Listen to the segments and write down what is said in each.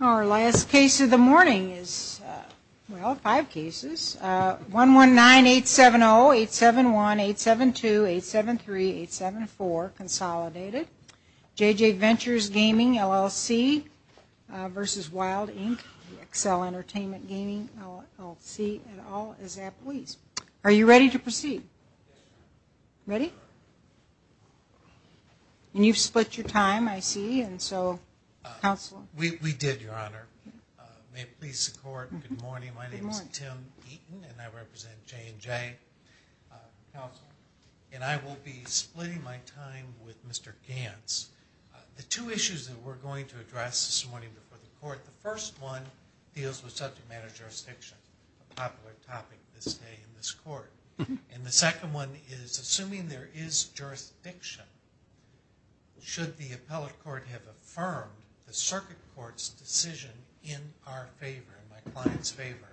Our last case of the morning is, well, five cases, 119-870-871-872-873-874, Consolidated. J&J Ventures Gaming, LLC v. Wild, Inc., XL Entertainment Gaming, LLC, and all its employees. Are you ready to proceed? Ready? And you've split your time, I see, and so, Counselor? We did, Your Honor. May it please the Court, good morning. My name is Tim Eaton, and I represent J&J, Counselor. And I will be splitting my time with Mr. Gantz. The two issues that we're going to address this morning before the Court, the first one deals with subject matter jurisdiction, a popular topic this day in this Court. And the second one is, assuming there is jurisdiction, should the Appellate Court have affirmed the Circuit Court decision in our favor, in my client's favor?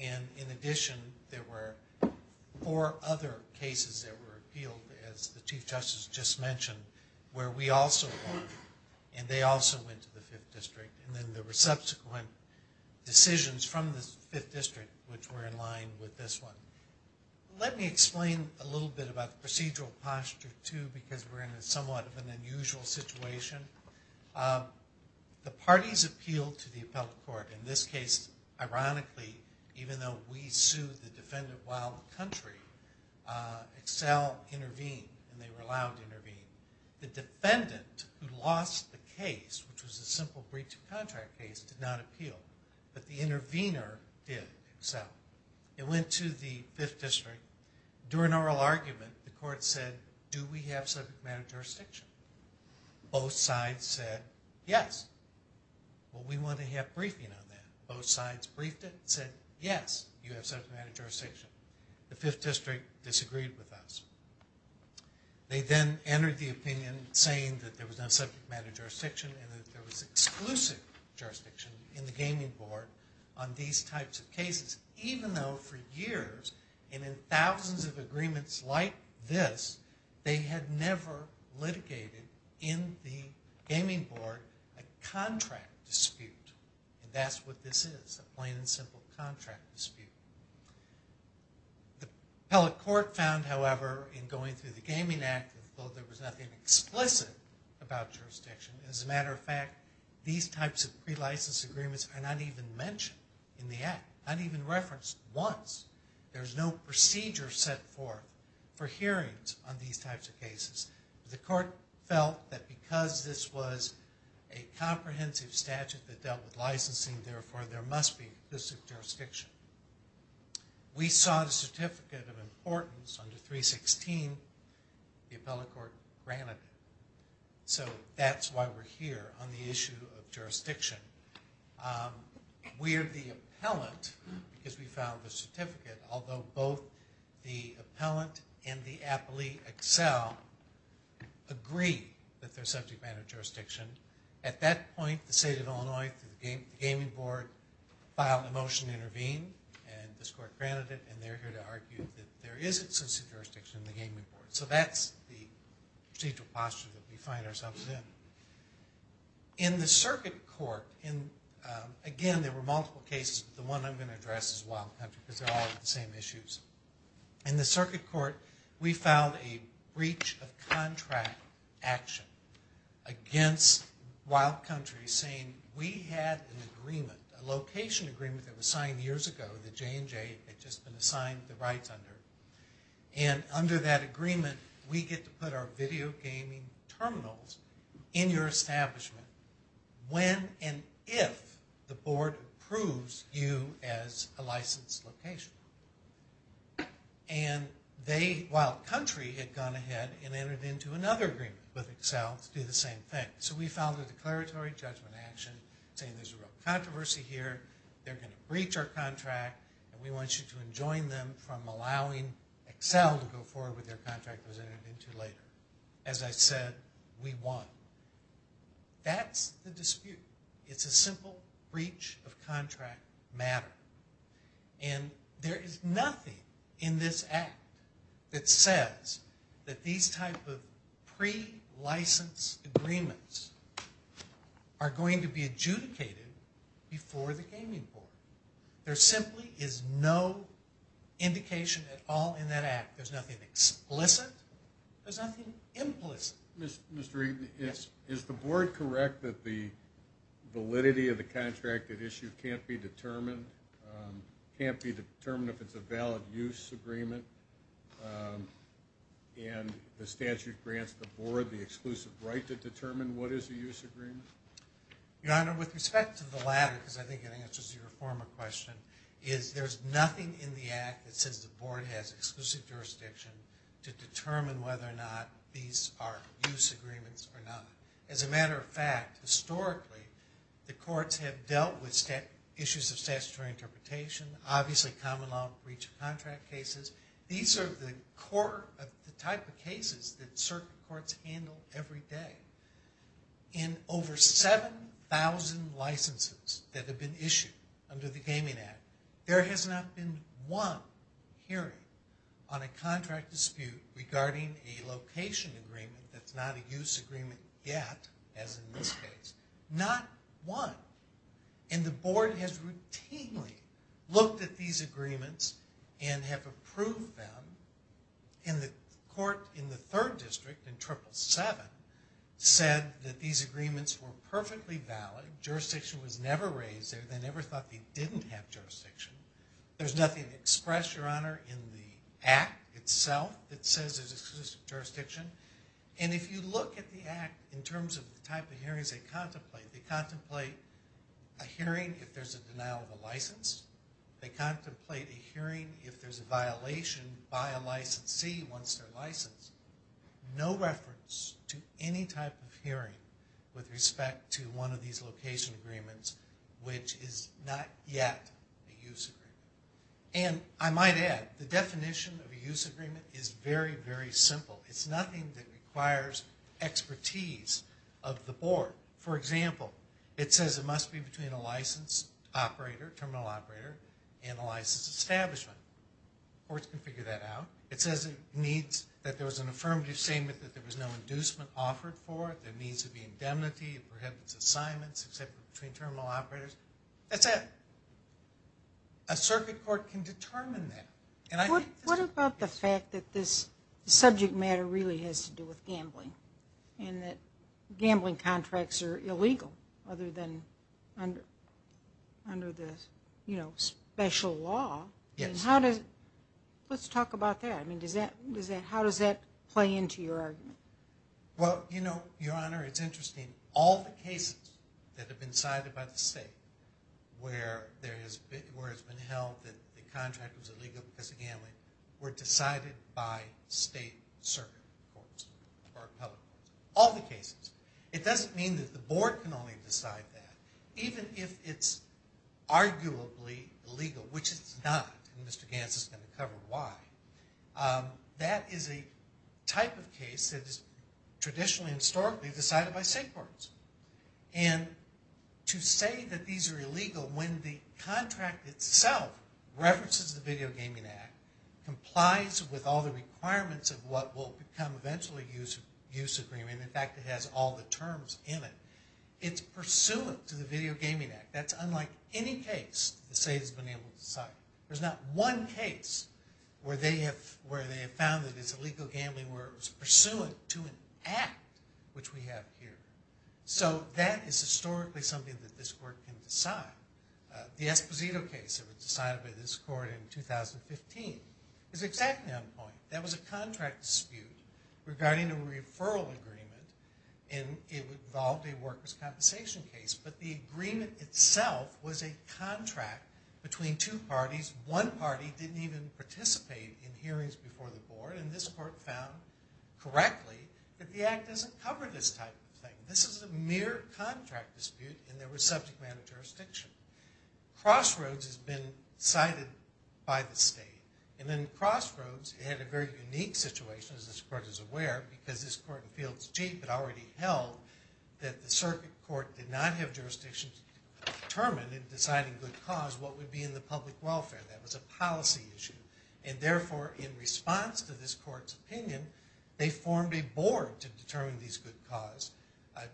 And in addition, there were four other cases that were appealed, as the Chief Justice just mentioned, where we also won, and they also went to the Fifth District. And then there were subsequent decisions from the Fifth District, which were in line with this one. Let me explain a little bit about procedural posture, too, because we're in somewhat of an unusual situation. The parties appealed to the Appellate Court. In this case, ironically, even though we sued the defendant while the country, Excel intervened, and they were allowed to intervene. The defendant who lost the case, which was a simple breach of contract case, did not appeal. But the intervener did, Excel. It went to the Fifth District. During oral argument, the Court said, do we have subject matter jurisdiction? Both sides said, yes. Well, we want to have briefing on that. Both sides briefed it and said, yes, you have subject matter jurisdiction. The Fifth District disagreed with us. They then entered the opinion saying that there was no subject matter jurisdiction and that there was exclusive jurisdiction in the Gaming Board on these types of cases, even though for years, and in thousands of agreements like this, they had never litigated in the Gaming Board a contract dispute. And that's what this is, a plain and simple contract dispute. The Appellate Court found, however, in going through the Gaming Act, although there was nothing explicit about jurisdiction, as a matter of fact, these types of pre-license agreements are not even mentioned in the Act, not even referenced once. There's no procedure set forth for hearings on these types of cases. The Court felt that because this was a comprehensive statute that dealt with licensing, therefore there must be exclusive jurisdiction. We sought a certificate of importance under 316. The Appellate Court granted it. So that's why we're here on the issue of jurisdiction. We're the appellant because we found the certificate, although both the appellant and the appellee excel agree that there's subject matter jurisdiction. At that point, the State of Illinois, the Gaming Board, filed a motion to intervene and this Court granted it, and they're here to argue that there is exclusive jurisdiction in the Gaming Board. So that's the procedural posture that we find ourselves in. In the Circuit Court, again, there were multiple cases, but the one I'm going to address is Wild Country because they're all the same issues. In the Circuit Court, we found a breach of contract action against Wild Country, saying we had an agreement, a location agreement that was signed years ago that J&J had just been assigned the rights under, and under that agreement, we get to put our video gaming terminals in your establishment when and if the Board approves you as a licensed location. And they, Wild Country, had gone ahead and entered into another agreement with Excel to do the same thing. So we filed a declaratory judgment action saying there's a real controversy here, they're going to breach our contract, and we want you to enjoin them from allowing Excel to go forward with their contract that was entered into later. As I said, we won. That's the dispute. It's a simple breach of contract matter. And there is nothing in this Act that says that these type of pre-license agreements are going to be adjudicated before the Gaming Board. There simply is no indication at all in that Act. There's nothing explicit. There's nothing implicit. Mr. Regan, is the Board correct that the validity of the contract at issue can't be determined, can't be determined if it's a valid use agreement, and the statute grants the Board the exclusive right to determine what is a use agreement? Your Honor, with respect to the latter, because I think it answers your former question, there's nothing in the Act that says the Board has exclusive jurisdiction to determine whether or not these are use agreements or not. As a matter of fact, historically, the courts have dealt with issues of statutory interpretation, obviously common law breach of contract cases. These are the type of cases that certain courts handle every day. In over 7,000 licenses that have been issued under the Gaming Act, there has not been one hearing on a contract dispute regarding a location agreement that's not a use agreement yet, as in this case. Not one. And the Board has routinely looked at these agreements and have approved them. And the court in the 3rd District in Triple 7 said that these agreements were perfectly valid. Jurisdiction was never raised there. They never thought they didn't have jurisdiction. There's nothing expressed, Your Honor, in the Act itself that says there's exclusive jurisdiction. And if you look at the Act in terms of the type of hearings they contemplate, they contemplate a hearing if there's a denial of a license. They contemplate a hearing if there's a violation by a licensee once they're licensed. No reference to any type of hearing with respect to one of these location agreements, which is not yet a use agreement. And I might add, the definition of a use agreement is very, very simple. It's nothing that requires expertise of the Board. For example, it says it must be between a license operator, terminal operator, and a license establishment. Courts can figure that out. It says it needs, that there was an affirmative statement that there was no inducement offered for it. There needs to be indemnity. It prohibits assignments except between terminal operators. That's it. A circuit court can determine that. And I think... What about the fact that this subject matter really has to do with gambling? And that gambling contracts are illegal other than under the special law. Yes. Let's talk about that. How does that play into your argument? Well, Your Honor, it's interesting. All the cases that have been cited by the State where it's been held that the contract was illegal because of gambling were decided by State circuit courts or public courts. All the cases. It doesn't mean that the Board can only decide that. Even if it's arguably illegal, which it's not. And Mr. Gantz is going to cover why. That is a type of case that is traditionally and historically decided by State courts. And to say that these are illegal when the contract itself references the use agreement, in fact it has all the terms in it, it's pursuant to the Video Gaming Act. That's unlike any case the State has been able to decide. There's not one case where they have found that it's illegal gambling where it was pursuant to an act, which we have here. So that is historically something that this court can decide. The Esposito case that was decided by this court in a referral agreement. And it involved a workers' compensation case. But the agreement itself was a contract between two parties. One party didn't even participate in hearings before the Board. And this court found correctly that the act doesn't cover this type of thing. This is a mere contract dispute and there was subject matter jurisdiction. Crossroads has been cited by the Circuit Court because this court in Fields Jeep had already held that the Circuit Court did not have jurisdiction to determine in deciding good cause what would be in the public welfare. That was a policy issue. And therefore in response to this court's opinion, they formed a board to determine these good cause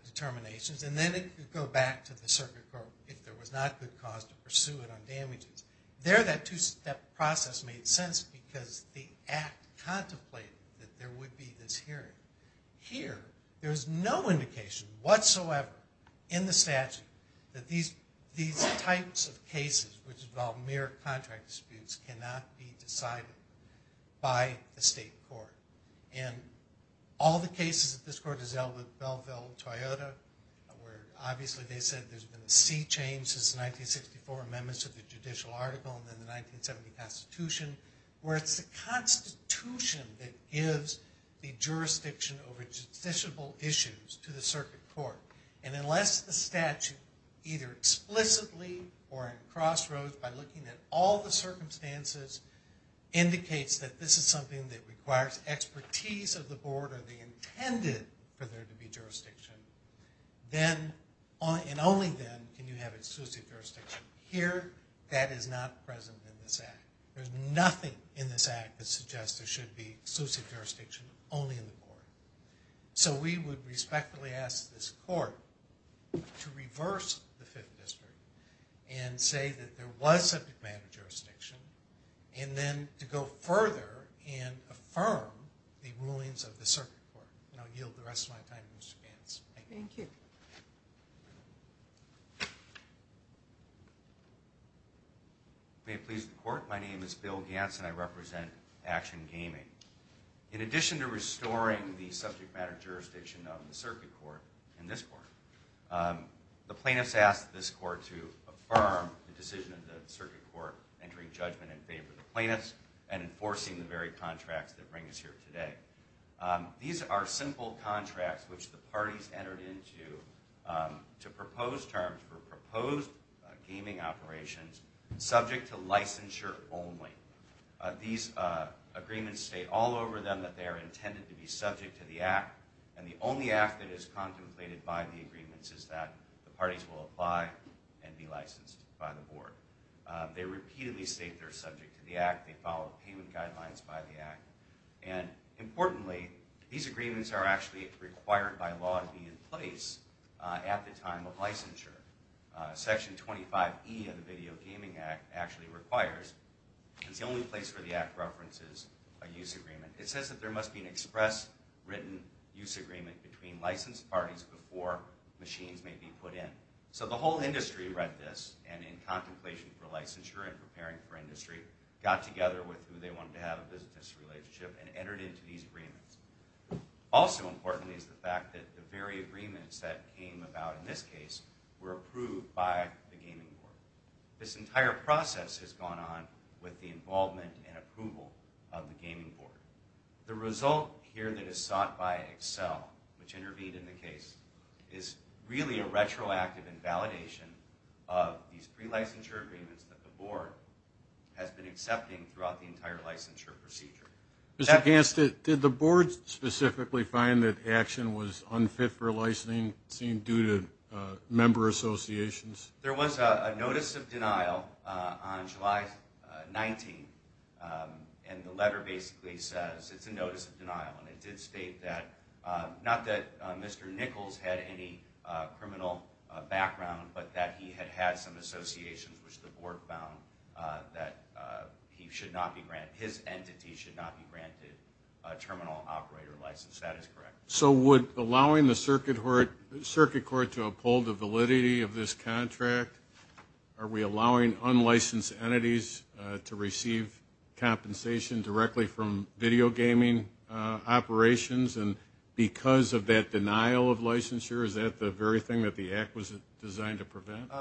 determinations. And then it could go back to the Circuit Court if there was not good cause to pursue it on damages. There that two-step process made sense because the act contemplated that there would be this hearing. Here there is no indication whatsoever in the statute that these types of cases which involve mere contract disputes cannot be decided by the state court. And all the cases that this court has held with Belleville and Toyota where obviously they said there's been a sea change since the 1964 amendments to the judicial article and then the 1970 constitution, where it's the constitution that gives the jurisdiction over justiciable issues to the Circuit Court. And unless the statute either explicitly or in crossroads by looking at all the circumstances indicates that this is something that requires expertise of the board or they intended for there to be jurisdiction, then and only then can you have exclusive jurisdiction. Here that is not present in this act. There's nothing in this act that suggests there should be jurisdiction only in the board. So we would respectfully ask this court to reverse the Fifth District and say that there was subject matter jurisdiction and then to go further and affirm the rulings of the Circuit Court. And I'll yield the rest of my time to Mr. Gantz. Thank you. May it please the court. My name is Bill Gantz and I represent Action Gaming. In addition to restoring the subject matter jurisdiction of the Circuit Court and this court, the plaintiffs asked this court to affirm the decision of the Circuit Court entering judgment in favor of the plaintiffs and enforcing the very contracts that bring us here today. These are simple contracts which the parties entered into to propose terms for proposed gaming operations subject to licensure only. These agreements state all over them that they're intended to be subject to the act and the only act that is contemplated by the agreements is that the parties will apply and be licensed by the board. They repeatedly state they're subject to the act. They follow payment guidelines by the act. Importantly, these agreements are actually required by law to be in place at the time of licensure. Section 25E of the Video Gaming Act actually requires. It's the only place where the act references a use agreement. It says that there must be an express written use agreement between licensed parties before machines may be put in. So the whole industry read this and in contemplation for licensure and preparing for industry, got together with who they wanted to have a business relationship and entered into these agreements. Also important is the fact that the very agreements that came about in this case were approved by the gaming board. This entire process has gone on with the involvement and approval of the gaming board. The result here that is sought by Excel, which intervened in the case, is really a retroactive invalidation of these pre-licensure agreements that the board has been accepting throughout the entire licensure procedure. Mr. Hanson, did the board specifically find that action was unfit for licensing due to member associations? There was a notice of denial on July 19 and the letter basically says it's a notice of denial and it did state that, not that Mr. Nichols had any criminal background, but that he had had some associations which the board would not be granted terminal operator license. That is correct. So would allowing the circuit court to uphold the validity of this contract, are we allowing unlicensed entities to receive compensation directly from video gaming operations and because of that denial of licensure, is that the very thing that the act was designed to prevent?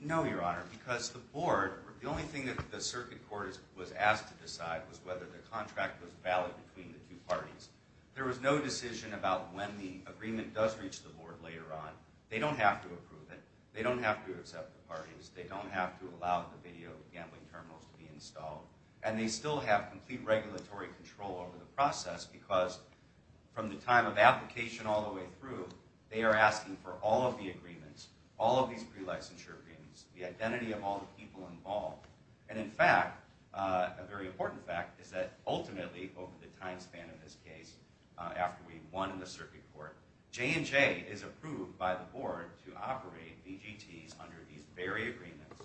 No, Your Honor, because the board, the only thing that the circuit court was asked to decide was whether the contract was valid between the two parties. There was no decision about when the agreement does reach the board later on. They don't have to approve it. They don't have to accept the parties. They don't have to allow the video gambling terminals to be installed and they still have complete regulatory control over the process because from the time of application all the way through, they are asking for all of the agreements, all of these pre-licensure agreements, the identity of all the people involved and in fact, a very important fact, is that ultimately over the time span of this case, after we won the circuit court, J&J is approved by the board to operate VGTs under these very agreements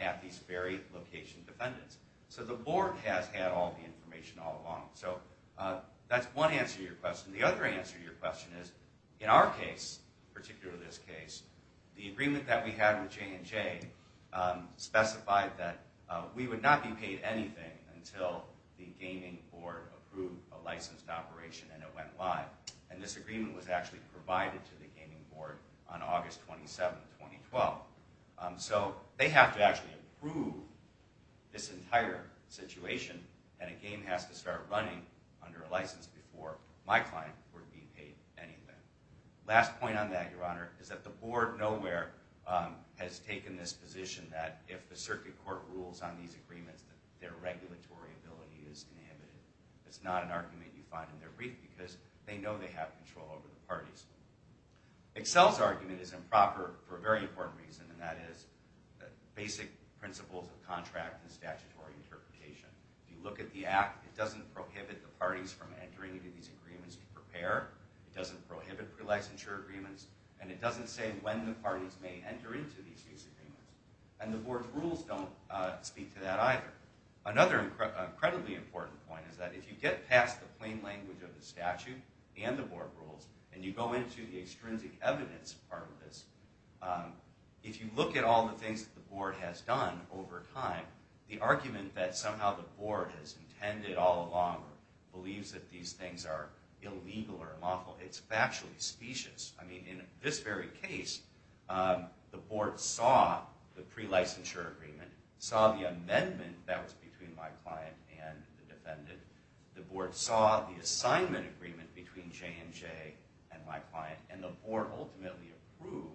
at these very location defendants. So the board has had all the information all along. So that's one answer to your question. The other answer to your question is, in our case, particularly this case, the agreement that we had with J&J specified that we would not be paid anything until the gaming board approved a licensed operation and it went live. And this agreement was actually provided to the gaming board on August 27, 2012. So they have to actually approve this entire situation and a game has to start running under a license before my client would be paid anything. Last point on that, Your Honor, is that the board nowhere has taken this position that if the circuit court rules on these agreements, their regulatory ability is inhibited. It's not an argument you find in their brief because they know they have control over the parties. Excel's argument is improper for a very important reason and that is basic principles of contract and statutory interpretation. If you look at the act, it doesn't prohibit the parties from entering into these agreements to prepare. It doesn't prohibit pre-licensure agreements and it doesn't say when the parties may enter into these agreements. And the board's rules don't speak to that either. Another incredibly important point is that if you get past the plain language of the statute and the board rules and you go into the extrinsic evidence part of this, if you look at all the things the board has done over time, the argument that somehow the board has intended all along or believes that these things are illegal or unlawful, it's factually specious. I mean, in this very case, the board saw the assignment agreement between J&J and my client and the board ultimately approved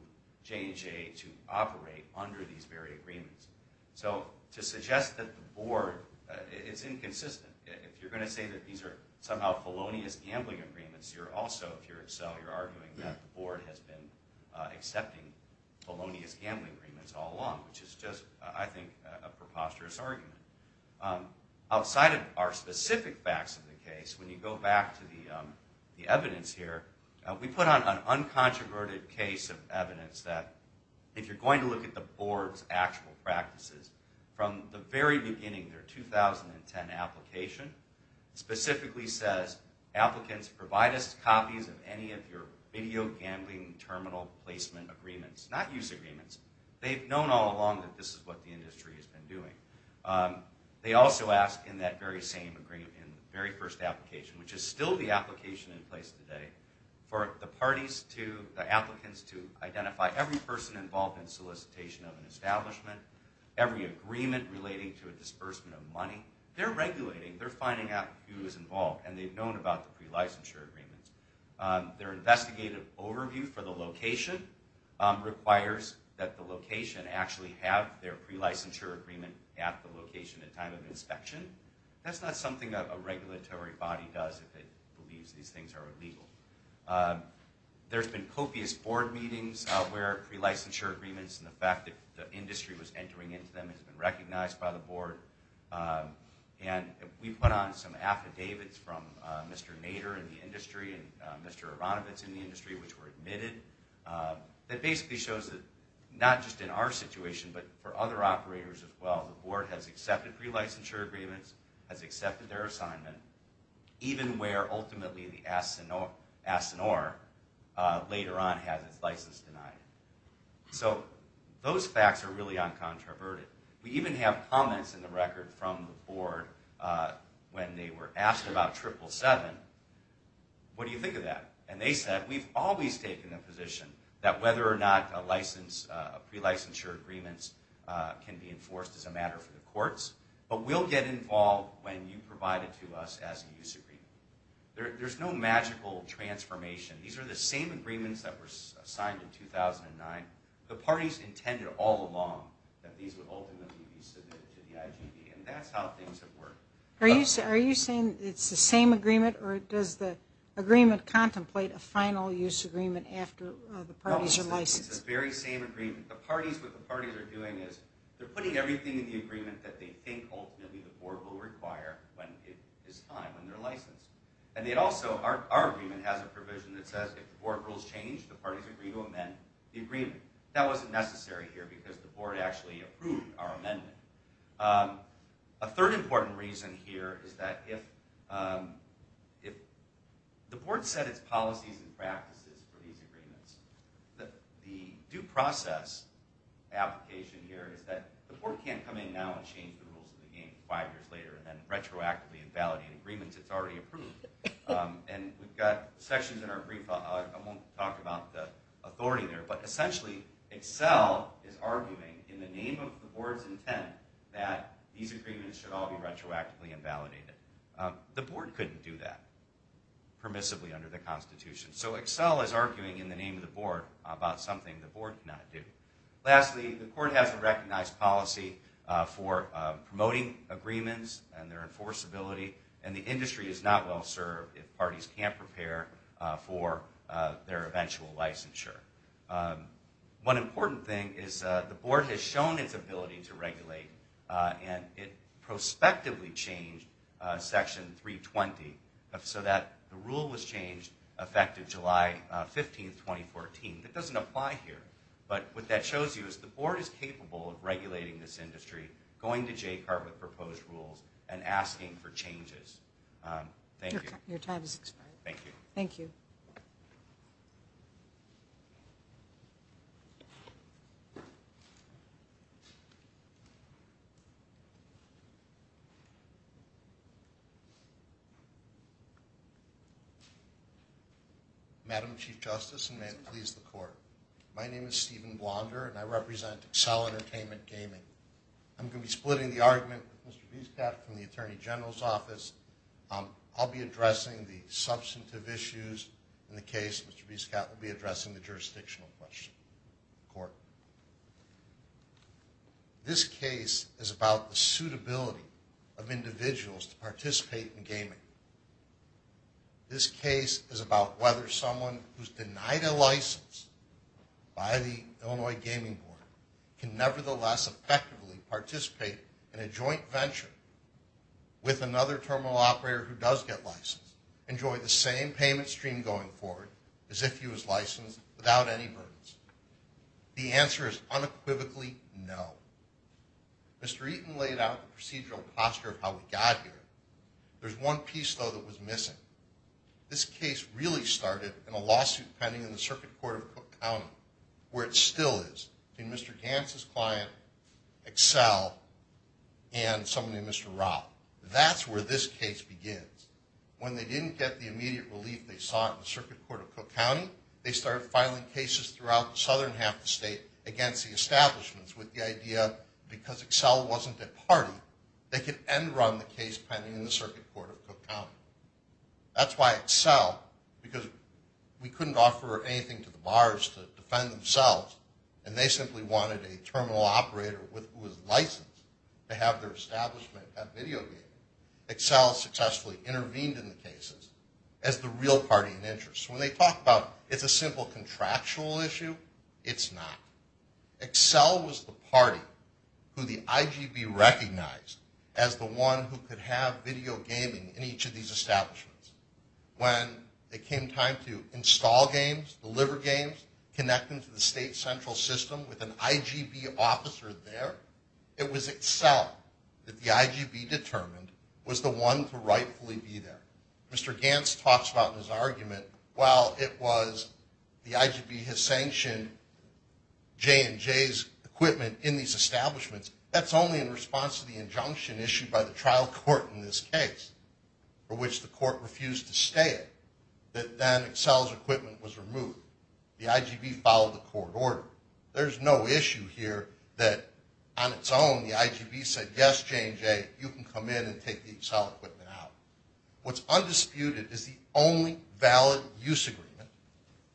J&J to operate under these very agreements. So to suggest that the board, it's inconsistent. If you're going to say that these are somehow felonious gambling agreements, you're also, if you're Excel, you're arguing that the board has been accepting felonious gambling agreements all along, which is just, I think, a preposterous argument. Outside of our specific facts of the case, when you go back to the evidence here, we put on an uncontroverted case of evidence that, if you're going to look at the board's actual practices, from the very beginning, their 2010 application, specifically says, applicants, provide us copies of any of your mediocre gambling terminal placement agreements. Not use agreements. They've known all along that this is what the industry has been doing. They also ask in that very same agreement, in the very first application, which is still the application in place today, for the parties to, the applicants to identify every person involved in solicitation of an establishment, every agreement relating to a disbursement of money. They're regulating. They're finding out who is involved. And they've known about the pre-licensure agreements. Their investigative overview for the location requires that the location actually have their pre-licensure agreement at the location at time of inspection. That's not something a regulatory body does if it believes these things are illegal. There's been copious board meetings where pre-licensure agreements and the fact that the industry was entering into them has been from Mr. Nader in the industry and Mr. Aronovitz in the industry, which were admitted. That basically shows that, not just in our situation, but for other operators as well, the board has accepted pre-licensure agreements, has accepted their assignment, even where ultimately the ASINOR later on has its license denied. So those facts are really uncontroverted. We even have comments in the record from the board when they were asked about Triple 7. What do you think of that? And they said, we've always taken the position that whether or not pre-licensure agreements can be enforced is a matter for the courts, but we'll get involved when you provide it to us as a use agreement. There's no magical transformation. These are the same agreements that were signed in 2009. The parties intended all along that these would ultimately be submitted to the IGB, and that's how things have worked. Are you saying it's the same agreement, or does the agreement contemplate a final use agreement after the parties are licensed? No, it's the very same agreement. What the parties are doing is they're putting everything in the agreement that they think ultimately the board will require when it is time, when they're licensed. And also, our agreement has a provision that says if the board rules change, the parties agree to amend the agreement. That wasn't necessary here because the board actually approved our amendment. A third important reason here is that if the board set its policies and practices for these agreements, the due process application here is that the board can't come in now and change the rules of the game five years later and then retroactively invalidate agreements it's already approved. And we've got sections in our brief, I won't talk about the authority there, but essentially Excel is arguing in the name of the board's intent that these agreements should all be retroactively invalidated. The board couldn't do that permissibly under the Constitution. So Excel is arguing in the name of the board about something the board cannot do. Lastly, the court has a recognized policy for promoting agreements and their enforceability, and the industry is not well served if parties can't prepare for their eventual licensure. One important thing is the board has shown its ability to regulate, and it prospectively changed Section 320 so that the rule was changed effective July 15, 2014. That doesn't apply here, but what that shows you is the board is capable of regulating this industry, going to JCART with proposed rules, and asking for changes. Thank you. Your time has expired. Thank you. Thank you. Madam Chief Justice, and may it please the court, my name is Stephen Blonder, and I represent Excel Entertainment Gaming. I'm going to be splitting the argument with Mr. Biscott from the Attorney General's Office. I'll be addressing the substantive issues in the case. Mr. Biscott will be addressing the jurisdictional question. Court, this case is about the suitability of individuals to participate in gaming. This case is about whether someone who's denied a license by the Illinois Gaming Board can nevertheless effectively participate in a joint venture with another terminal operator who does get licensed, enjoy the same payment stream going forward as if he was licensed without any burdens. The answer is unequivocally no. Mr. Eaton laid out the procedural posture of how we got here. There's one piece, though, that was missing. This case really started in a lawsuit pending in the Circuit Court of Cook County, where it still is, between Mr. Gantz's client, Excel, and somebody named Mr. Rao. That's where this case begins. When they didn't get the immediate relief they sought in the Circuit Court of Cook County, they started filing cases throughout the southern half of the state against the establishments with the idea, because Excel wasn't a party, they could end-run the case pending in the Circuit Court of Cook County. That's why Excel, because we couldn't offer anything to the bars to defend themselves, and they simply wanted a terminal operator who was licensed to have their establishment have video gaming, Excel successfully intervened in the cases as the real party in interest. When they talk about it's a simple contractual issue, it's not. Excel was the party who the IGB recognized as the one who could have video gaming in each of these establishments. When it came time to install games, deliver games, connect them to the state central system with an IGB officer there, it was Excel that the IGB determined was the one to rightfully be there. Mr. Gantz talks about in his argument, while it was the IGB has sanctioned J&J's equipment in these establishments, that's only in response to the injunction issued by the trial court in this case, for which the court refused to stay it, that then Excel's equipment was removed. The IGB followed the court order. There's no issue here that on its own the IGB said, yes, J&J, you can come in and take the Excel equipment out. What's undisputed is the only valid use agreement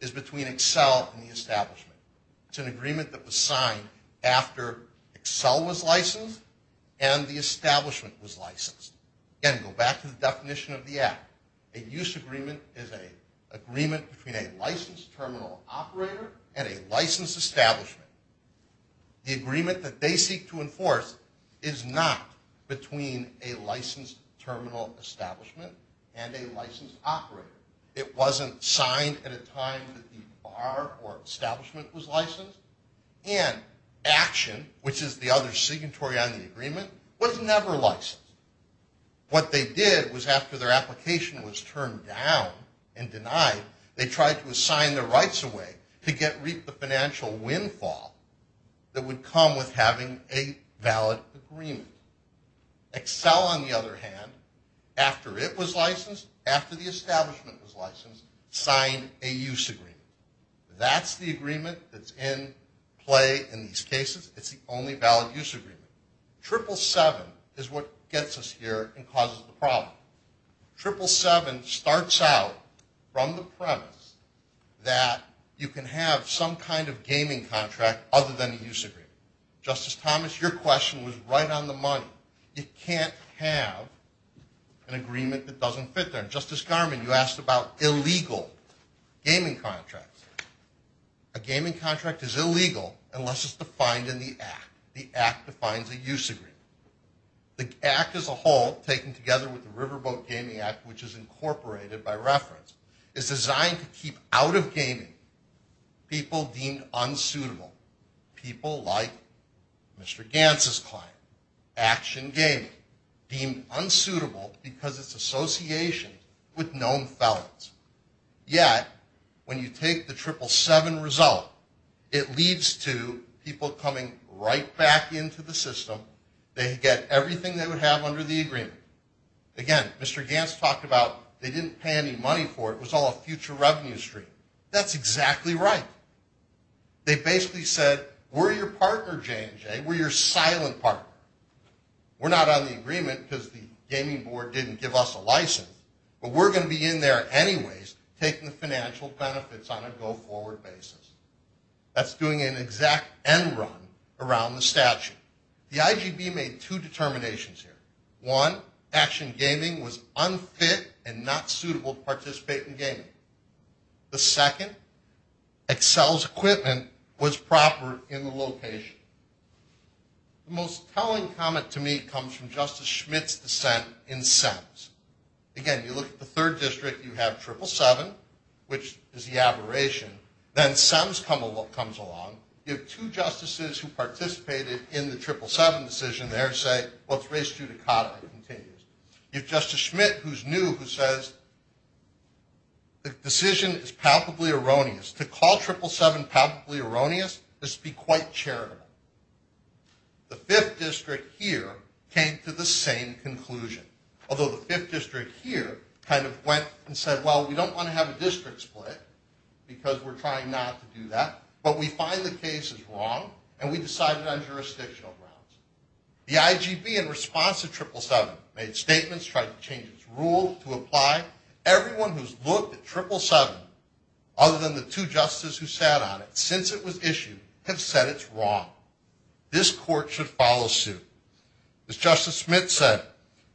is between Excel and the establishment. It's an agreement that was signed after Excel was licensed and the establishment was licensed. Again, go back to the definition of the act. A use agreement is an agreement between a licensed terminal operator and a licensed establishment. The agreement that they seek to enforce is not between a licensed terminal establishment and a licensed operator. It wasn't signed at a time that the bar or establishment was licensed, and action, which is the other signatory on the agreement, was never licensed. What they did was after their application was turned down and denied, they tried to assign their rights away to reap the financial windfall that would come with having a valid agreement. Excel, on the other hand, after it was licensed, after the establishment was licensed, signed a use agreement. That's the agreement that's in play in these cases. It's the only valid use agreement. 777 is what gets us here and causes the problem. 777 starts out from the premise that you can have some kind of gaming contract other than a use agreement. Justice Thomas, your question was right on the money. You can't have an agreement that doesn't fit there. Justice Garmon, you asked about illegal gaming contracts. A gaming contract is illegal unless it's defined in the act. The act defines a use agreement. The act as a whole, taken together with the Riverboat Gaming Act, which is incorporated by reference, is designed to keep out of gaming people deemed unsuitable. People like Mr. Gantz's client, Action Gaming, deemed unsuitable because it's associated with known felons. Yet, when you take the 777 result, it leads to people coming right back into the system. They get everything they would have under the agreement. Again, Mr. Gantz talked about they didn't pay any money for it. It was all a future revenue stream. That's exactly right. They basically said, we're your partner, J&J. We're your silent partner. We're not on the agreement because the gaming board didn't give us a license. But we're going to be in there anyways, taking the financial benefits on a go-forward basis. That's doing an exact end run around the statute. The IGB made two determinations here. One, Action Gaming was unfit and not suitable to participate in gaming. The second, Accel's equipment was proper in the location. The most telling comment to me comes from Justice Schmitt's dissent in SEMS. Again, you look at the third district, you have 777, which is the aberration. Then SEMS comes along. You have two justices who participated in the 777 decision there say, well, it's race judicata. It continues. You have Justice Schmitt, who's new, who says, the decision is palpably erroneous. To call 777 palpably erroneous is to be quite charitable. The fifth district here came to the same conclusion, although the fifth district here kind of went and said, well, we don't want to have a district split because we're trying not to do that. But we find the case is wrong, and we decide it on jurisdictional grounds. The IGB, in response to 777, made statements, tried to change its rule to apply. Everyone who's looked at 777, other than the two justices who sat on it since it was issued, have said it's wrong. This court should follow suit. As Justice Schmitt said,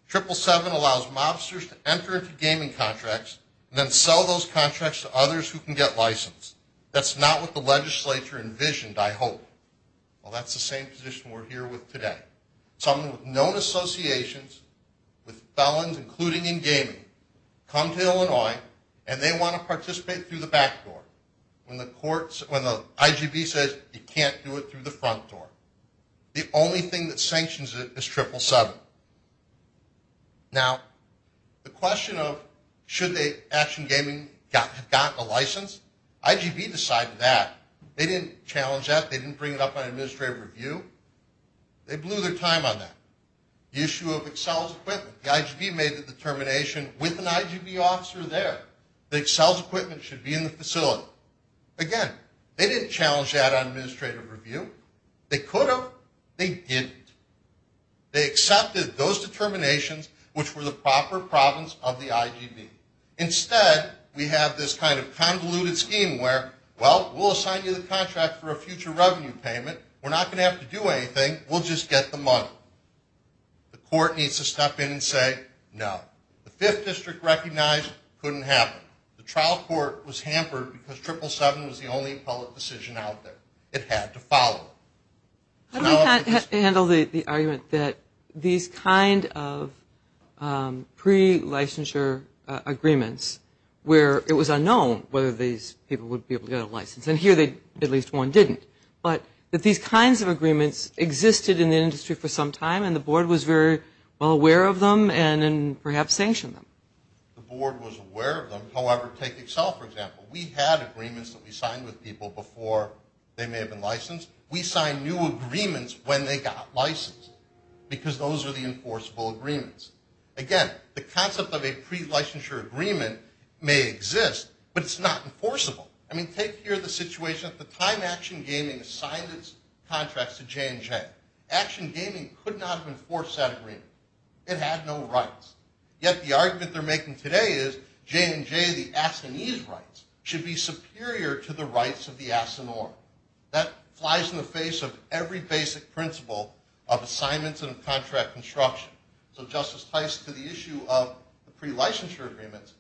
777 allows mobsters to enter into gaming contracts and then sell those contracts to others who can get licensed. That's not what the legislature envisioned, I hope. Well, that's the same position we're here with today. Someone with known associations with felons, including in gaming, come to Illinois, and they want to participate through the back door. When the IGB says you can't do it through the front door, the only thing that sanctions it is 777. Now, the question of should Action Gaming have gotten a license, IGB decided that. They didn't challenge that. They didn't bring it up on administrative review. They blew their time on that. The issue of Excel's equipment, the IGB made the determination with an IGB officer there that Excel's equipment should be in the facility. Again, they didn't challenge that on administrative review. They could have. They didn't. They accepted those determinations, which were the proper province of the IGB. Instead, we have this kind of convoluted scheme where, well, we'll assign you the contract for a future revenue payment. We're not going to have to do anything. We'll just get the money. The court needs to step in and say no. The Fifth District recognized it couldn't happen. The trial court was hampered because 777 was the only public decision out there. It had to follow. How do you handle the argument that these kind of pre-licensure agreements, where it was unknown whether these people would be able to get a license, and here at least one didn't, but that these kinds of agreements existed in the industry for some time and the board was very well aware of them and perhaps sanctioned them? The board was aware of them. However, take Excel, for example. We had agreements that we signed with people before they may have been licensed. We signed new agreements when they got licensed because those are the enforceable agreements. Again, the concept of a pre-licensure agreement may exist, but it's not enforceable. I mean, take here the situation at the time Action Gaming assigned its contracts to J&J. Action Gaming could not have enforced that agreement. It had no rights. Yet the argument they're making today is J&J, the Assanese rights, should be superior to the rights of the Assanoi. That flies in the face of every basic principle of assignments and of contract construction. So Justice Tice, to the issue of the pre-licensure agreements,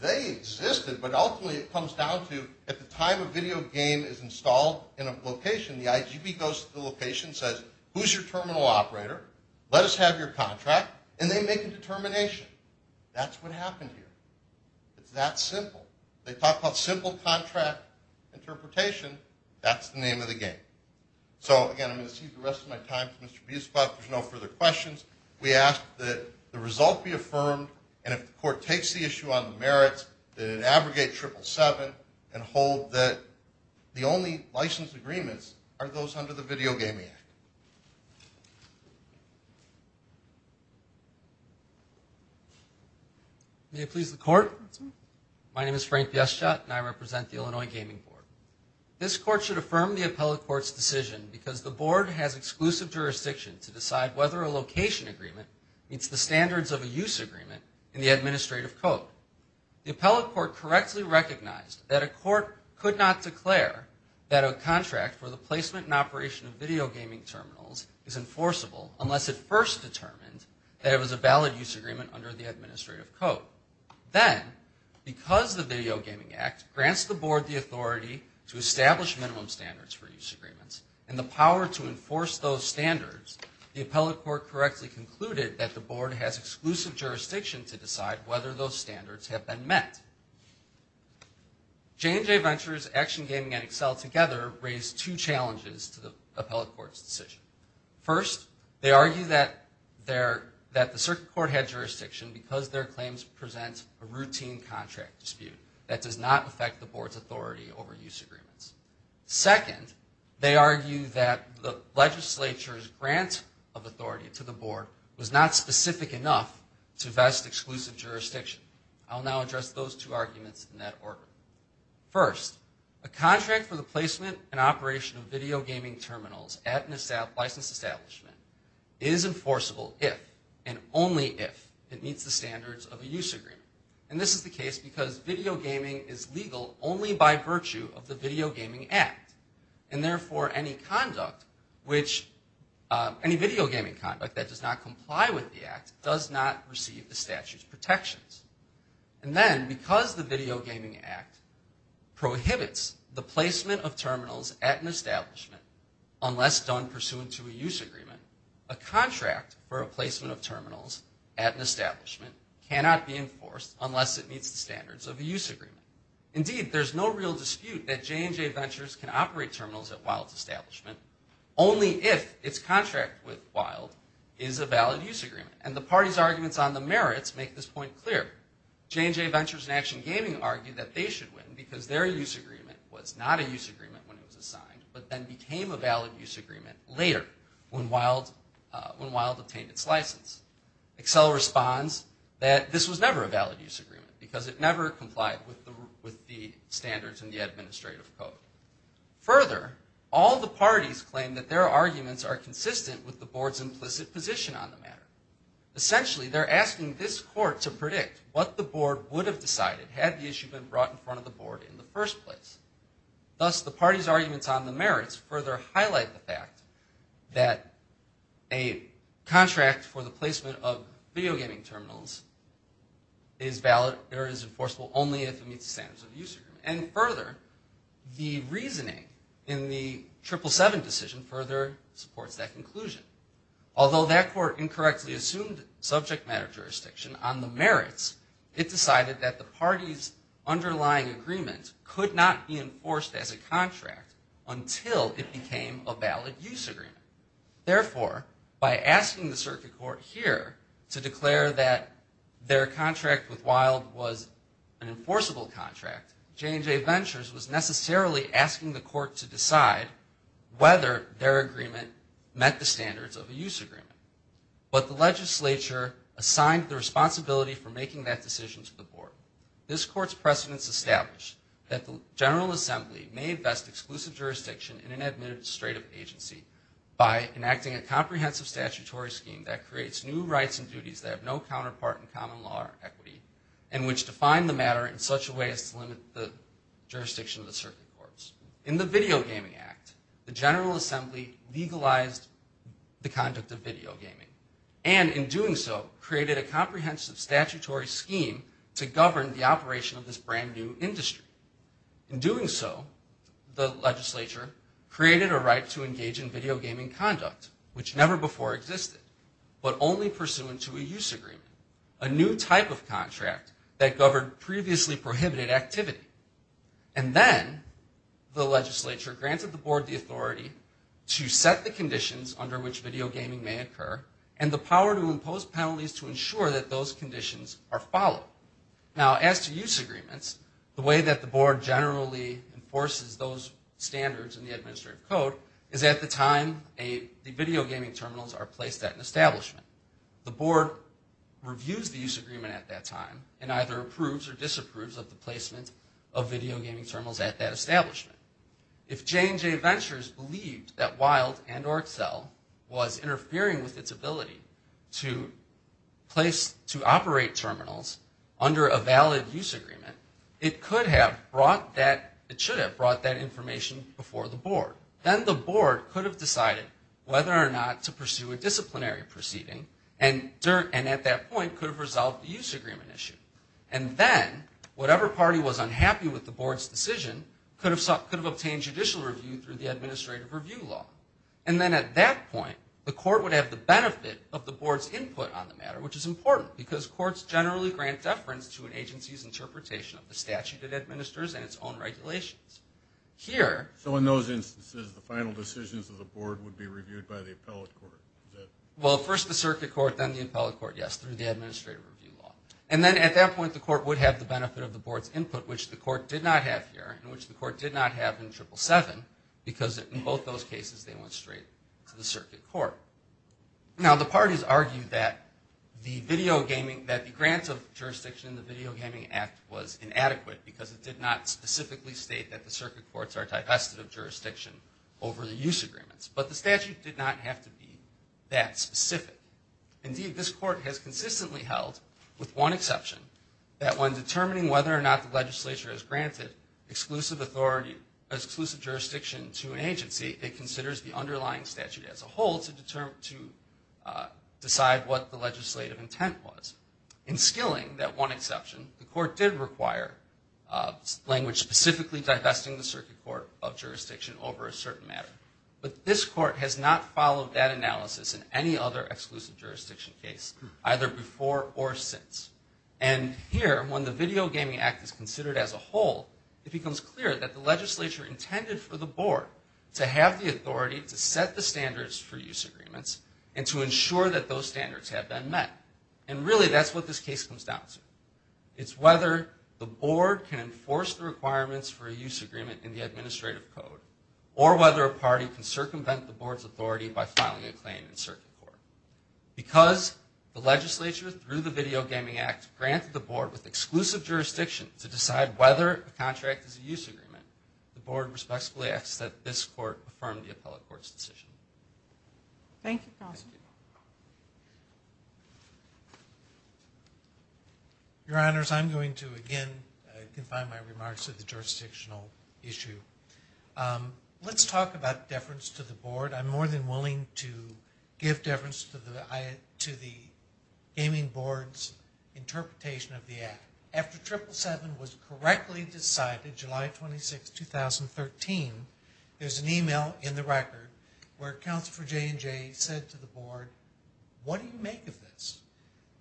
they existed, but ultimately it comes down to at the time a video game is installed in a location, the IGP goes to the location and says, Who's your terminal operator? Let us have your contract. And they make a determination. That's what happened here. It's that simple. They talk about simple contract interpretation. That's the name of the game. So, again, I'm going to cede the rest of my time to Mr. Biesplatz. If there's no further questions, we ask that the result be affirmed and if the court takes the issue on the merits, that it abrogate 777 and hold that the only licensed agreements are those under the Video Gaming Act. May it please the court. My name is Frank Biesplatz and I represent the Illinois Gaming Board. This court should affirm the appellate court's decision because the board has exclusive jurisdiction to decide whether a location agreement meets the standards of a use agreement in the administrative code. The appellate court correctly recognized that a court could not declare that a contract for the placement and operation of video gaming terminals is enforceable unless it first determined that it was a valid use agreement under the administrative code. Then, because the Video Gaming Act grants the board the authority to establish minimum standards for use agreements and the power to enforce those standards, the appellate court correctly concluded that the board has exclusive jurisdiction to decide whether those standards have been met. J&J Ventures, Action Gaming, and Accel together raised two challenges to the appellate court's decision. First, they argue that the circuit court had jurisdiction because their claims present a routine contract dispute that does not affect the board's authority over use agreements. Second, they argue that the legislature's grant of authority to the board was not specific enough to vest exclusive jurisdiction. I'll now address those two arguments in that order. First, a contract for the placement and operation of video gaming terminals at a licensed establishment is enforceable if and only if it meets the standards of a use agreement. And this is the case because video gaming is legal only by virtue of the Video Gaming Act. And therefore, any video gaming conduct that does not comply with the act does not receive the statute's protections. And then, because the Video Gaming Act prohibits the placement of terminals at an establishment unless done pursuant to a use agreement, a contract for a placement of terminals at an establishment cannot be enforced unless it meets the standards of a use agreement. Indeed, there's no real dispute that J&J Ventures can operate terminals at Wild's establishment only if its contract with Wild is a valid use agreement. And the party's arguments on the merits make this point clear. J&J Ventures and Action Gaming argue that they should win because their use agreement was not a use agreement when it was assigned, but then became a valid use agreement later when Wild obtained its license. Accel responds that this was never a valid use agreement because it never complied with the standards in the administrative code. Further, all the parties claim that their arguments are consistent with the board's implicit position on the matter. Essentially, they're asking this court to predict what the board would have decided had the issue been brought in front of the board in the first place. Thus, the party's arguments on the merits further highlight the fact that a contract for the placement of video gaming terminals is valid or is enforceable only if it meets the standards of the use agreement. And further, the reasoning in the 777 decision further supports that conclusion. Although that court incorrectly assumed subject matter jurisdiction on the merits, it decided that the party's underlying agreement could not be enforced as a contract until it became a valid use agreement. Therefore, by asking the circuit court here to declare that their contract with Wild was an enforceable contract, J&J Ventures was necessarily asking the court to decide whether their agreement met the standards of a use agreement. But the legislature assigned the responsibility for making that decision to the board. This court's precedents establish that the General Assembly may invest exclusive jurisdiction in an administrative agency by enacting a comprehensive statutory scheme that creates new rights and duties that have no counterpart in common law or equity and which define the matter in such a way as to limit the jurisdiction of the circuit courts. In the Video Gaming Act, the General Assembly legalized the conduct of video gaming and in doing so, created a comprehensive statutory scheme to govern the operation of this brand new industry. In doing so, the legislature created a right to engage in video gaming conduct which never before existed, but only pursuant to a use agreement, a new type of contract that governed previously prohibited activity. And then, the legislature granted the board the authority to set the conditions under which video gaming may occur and the power to impose penalties to ensure that those conditions are followed. Now, as to use agreements, the way that the board generally enforces those standards in the administrative code is at the time the video gaming terminals are placed at an establishment. The board reviews the use agreement at that time and either approves or disapproves of the placement of video gaming terminals at that establishment. If J&J Ventures believed that Wild and or Accel was interfering with its ability to place, to operate terminals under a valid use agreement, it could have brought that, it should have brought that information before the board. Then the board could have decided whether or not to pursue a disciplinary proceeding and at that point could have resolved the use agreement issue. And then, whatever party was unhappy with the board's decision could have obtained judicial review through the administrative review law. And then at that point, the court would have the benefit of the board's input on the matter, which is important because courts generally grant deference to an agency's interpretation of the statute it administers and its own regulations. Here... So in those instances, the final decisions of the board would be reviewed by the appellate court? Well, first the circuit court, then the appellate court, yes, through the administrative review law. And then at that point, the court would have the benefit of the board's input, which the court did not have here, and which the court did not have in 777, because in both those cases they went straight to the circuit court. Now, the parties argued that the video gaming, that the grants of jurisdiction in the Video Gaming Act was inadequate because it did not specifically state that the circuit courts are divested of jurisdiction over the use agreements. But the statute did not have to be that specific. Indeed, this court has consistently held, with one exception, that when determining whether or not the legislature has granted exclusive jurisdiction to an agency, it considers the underlying statute as a whole to decide what the legislative intent was. In skilling that one exception, the court did require language specifically divesting the circuit court of jurisdiction over a certain matter. But this court has not followed that analysis in any other exclusive jurisdiction case, either before or since. And here, when the Video Gaming Act is considered as a whole, it becomes clear that the legislature intended for the board to have the authority to set the standards for use agreements and to ensure that those standards have been met. And really, that's what this case comes down to. It's whether the board can enforce the requirements for a use agreement in the administrative code, or whether a party can circumvent the board's authority by filing a claim in circuit court. Because the legislature, through the Video Gaming Act, granted the board with exclusive jurisdiction to decide whether a contract is a use agreement, the board respectfully asks that this court affirm the appellate court's decision. Thank you, Counselor. Thank you. Your Honors, I'm going to again confine my remarks to the jurisdictional issue. Let's talk about deference to the board. I'm more than willing to give deference to the Gaming Board's interpretation of the act. After 777 was correctly decided, July 26, 2013, there's an email in the record where Counselor J&J said to the board, what do you make of this?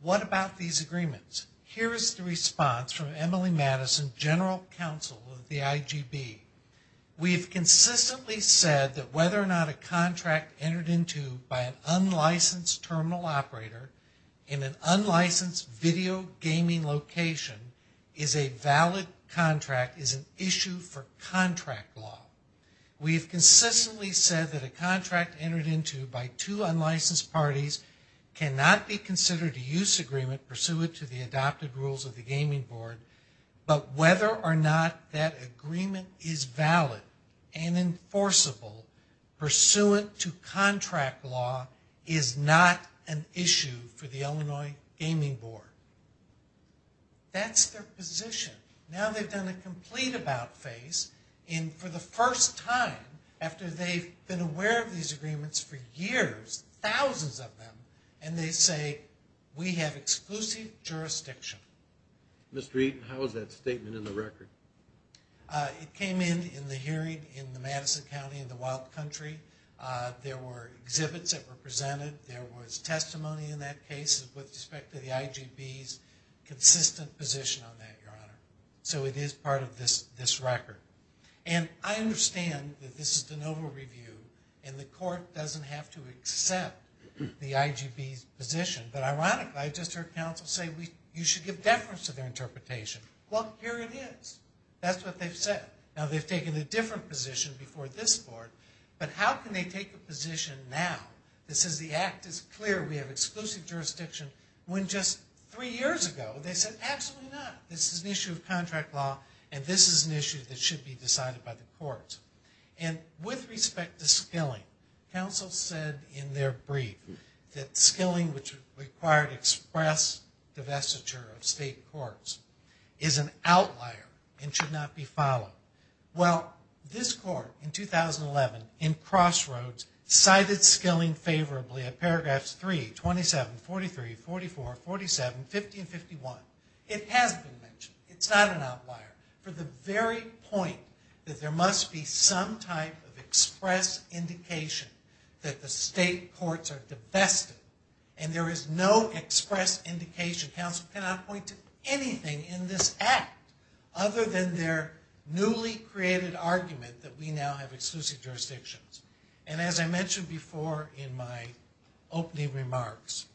What about these agreements? Here is the response from Emily Madison, General Counsel of the IGB. We have consistently said that whether or not a contract entered into by an unlicensed terminal operator in an unlicensed video gaming location is a valid contract is an issue for contract law. We have consistently said that a contract entered into by two unlicensed parties cannot be considered a use agreement pursuant to the adopted rules of the Gaming Board, but whether or not that agreement is valid and enforceable pursuant to contract law is not an issue for the Illinois Gaming Board. That's their position. Now they've done a complete about-face for the first time after they've been aware of these agreements for years, thousands of them, and they say we have exclusive jurisdiction. Mr. Eaton, how is that statement in the record? It came in in the hearing in the Madison County in the wild country. There were exhibits that were presented. There was testimony in that case with respect to the IGB's consistent position on that, Your Honor. So it is part of this record. And I understand that this is de novo review and the court doesn't have to accept the IGB's position, but ironically I just heard counsel say you should give deference to their interpretation. Well, here it is. That's what they've said. Now they've taken a different position before this board, but how can they take a position now that says the act is clear, we have exclusive jurisdiction, when just three years ago they said absolutely not. This is an issue of contract law and this is an issue that should be decided by the courts. And with respect to skilling, counsel said in their brief that skilling which required express divestiture of state courts is an outlier and should not be followed. Well, this court in 2011 in Crossroads cited skilling favorably at paragraphs 3, 27, 43, 44, 47, 50, and 51. It hasn't been mentioned. It's not an outlier. For the very point that there must be some type of express indication that the state courts are divested and there is no express indication, counsel cannot point to anything in this act other than their newly created argument that we now have exclusive jurisdictions. And as I mentioned before in my opening remarks,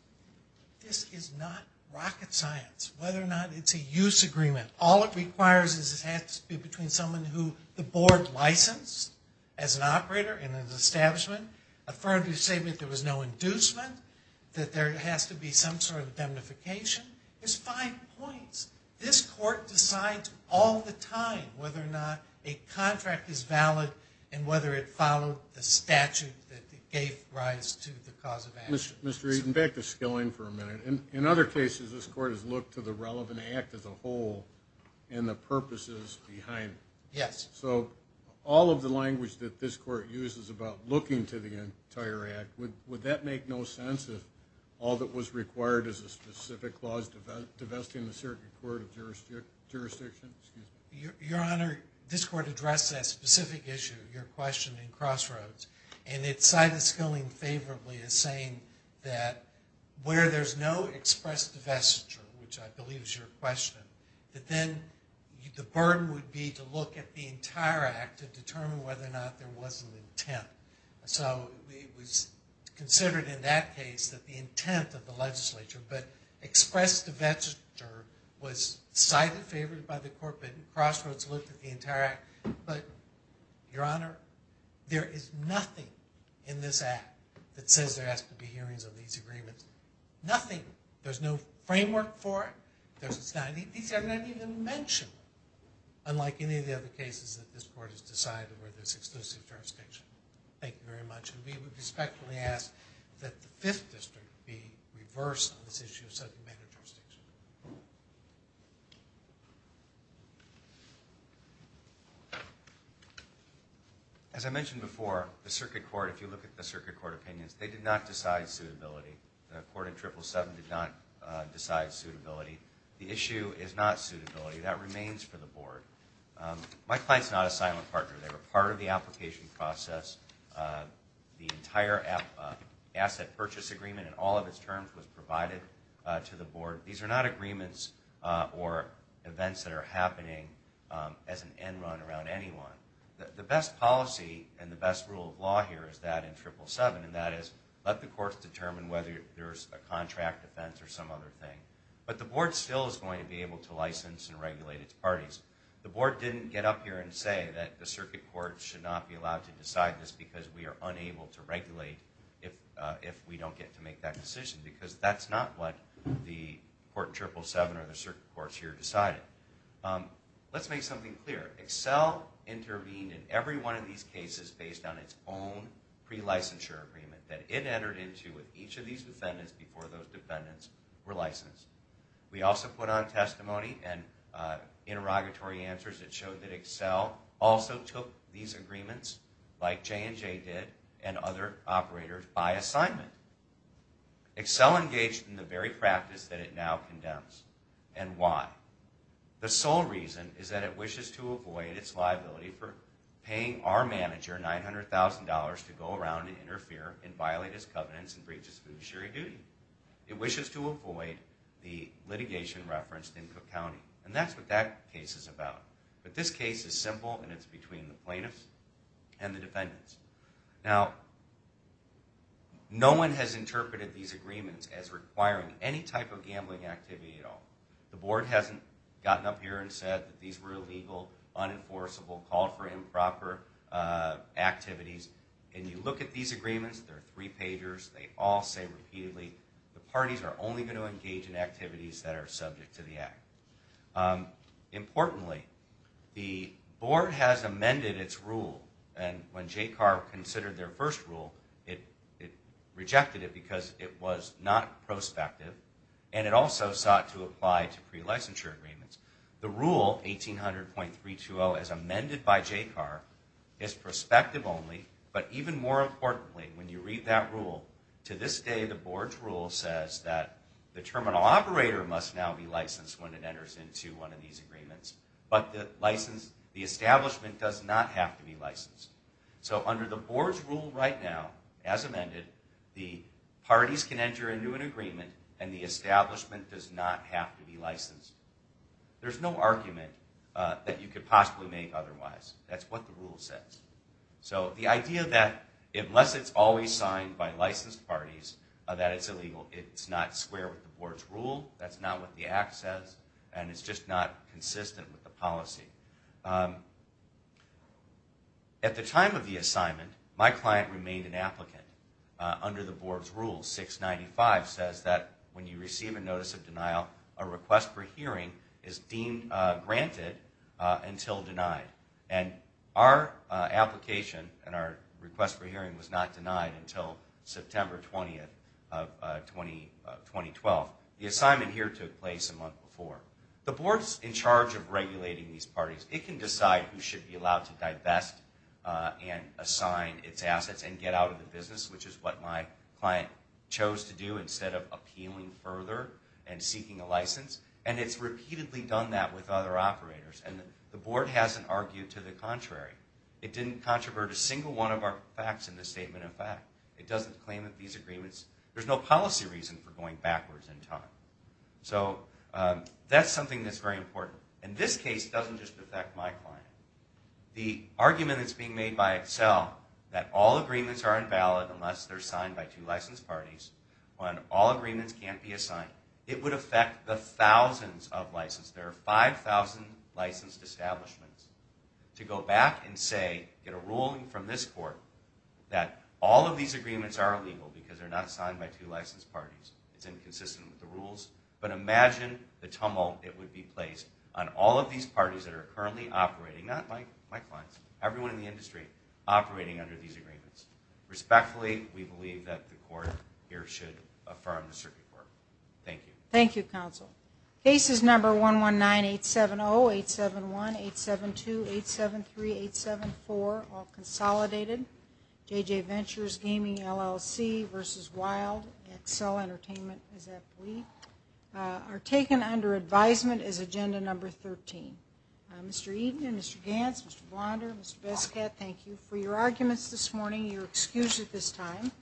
this is not rocket science. Whether or not it's a use agreement, all it requires is it has to be between someone who the board licensed as an operator in an establishment, a firm to say that there was no inducement, that there has to be some sort of identification. There's five points. This court decides all the time whether or not a contract is valid and whether it followed the statute that gave rise to the cause of action. In other cases, this court has looked to the relevant act as a whole and the purposes behind it. Yes. So all of the language that this court uses about looking to the entire act, would that make no sense if all that was required is a specific clause divesting the circuit court of jurisdiction? Your Honor, this court addressed that specific issue, your question in Crossroads, and it cited Skilling favorably as saying that where there's no express divestiture, which I believe is your question, that then the burden would be to look at the entire act to determine whether or not there was an intent. So it was considered in that case that the intent of the legislature, but express divestiture was cited, favored by the court, but Crossroads looked at the entire act. But, your Honor, there is nothing in this act that says there has to be hearings of these agreements. Nothing. There's no framework for it. These are not even mentioned, unlike any of the other cases that this court has decided where there's exclusive jurisdiction. Thank you very much. We would respectfully ask that the Fifth District be reversed on this issue of subject matter jurisdiction. As I mentioned before, the circuit court, if you look at the circuit court opinions, they did not decide suitability. The court in 777 did not decide suitability. The issue is not suitability. That remains for the board. My client's not a silent partner. They were part of the application process. The entire asset purchase agreement in all of its terms was provided to the board. These are not agreements or events that are happening as an end run around anyone. The best policy and the best rule of law here is that in 777, and that is let the courts determine whether there's a contract offense or some other thing. But the board still is going to be able to license and regulate its parties. The board didn't get up here and say that the circuit court should not be allowed to decide this because we are unable to regulate if we don't get to make that decision because that's not what the court in 777 or the circuit courts here decided. Let's make something clear. Excel intervened in every one of these cases based on its own pre-licensure agreement that it entered into with each of these defendants before those defendants were licensed. We also put on testimony and interrogatory answers that showed that Excel also took these agreements like J&J did and other operators by assignment. Excel engaged in the very practice that it now condemns. And why? The sole reason is that it wishes to avoid its liability for paying our manager $900,000 to go around and interfere and violate his covenants and breach his fiduciary duty. It wishes to avoid the litigation referenced in Cook County. And that's what that case is about. But this case is simple and it's between the plaintiffs and the defendants. Now, no one has interpreted these agreements as requiring any type of gambling activity at all. The board hasn't gotten up here and said that these were illegal, unenforceable, called for improper activities. And you look at these agreements, they're three-pagers, they all say repeatedly, the parties are only going to engage in activities that are subject to the Act. Importantly, the board has amended its rule. And when JCAR considered their first rule, it rejected it because it was not prospective and it also sought to apply to pre-licensure agreements. The rule, 1800.320, as amended by JCAR, is prospective only. But even more importantly, when you read that rule, to this day the board's rule says that the terminal operator must now be licensed when it enters into one of these agreements. But the establishment does not have to be licensed. So under the board's rule right now, as amended, the parties can enter into an agreement and the establishment does not have to be licensed. There's no argument that you could possibly make otherwise. That's what the rule says. So the idea that unless it's always signed by licensed parties, that it's illegal, it's not square with the board's rule, that's not what the Act says, and it's just not consistent with the policy. At the time of the assignment, my client remained an applicant. Under the board's rule, 695 says that when you receive a notice of denial, a request for hearing is deemed granted until denied. And our application and our request for hearing was not denied until September 20, 2012. The assignment here took place a month before. The board's in charge of regulating these parties. It can decide who should be allowed to divest and assign its assets and get out of the business, which is what my client chose to do instead of appealing further and seeking a license. And it's repeatedly done that with other operators. And the board hasn't argued to the contrary. It didn't controvert a single one of our facts in the statement of fact. It doesn't claim that these agreements... There's no policy reason for going backwards in time. So that's something that's very important. And this case doesn't just affect my client. The argument that's being made by Excel, that all agreements are invalid unless they're signed by two licensed parties, when all agreements can't be assigned, it would affect the thousands of licenses. There are 5,000 licensed establishments. To go back and say in a ruling from this court that all of these agreements are illegal because they're not signed by two licensed parties. It's inconsistent with the rules. But imagine the tumult it would be placed on all of these parties that are currently operating, not my clients, everyone in the industry, operating under these agreements. Respectfully, we believe that the court here should affirm the circuit court. Thank you. Thank you, counsel. Cases number 119870, 871, 872, 873, 874, all consolidated. J.J. Ventures, Gaming LLC v. Wild, Excel Entertainment, as I believe, are taken under advisement as agenda number 13. Mr. Eaton and Mr. Gantz, Mr. Blonder, Mr. Biscott, thank you for your arguments this morning. You're excused at this time.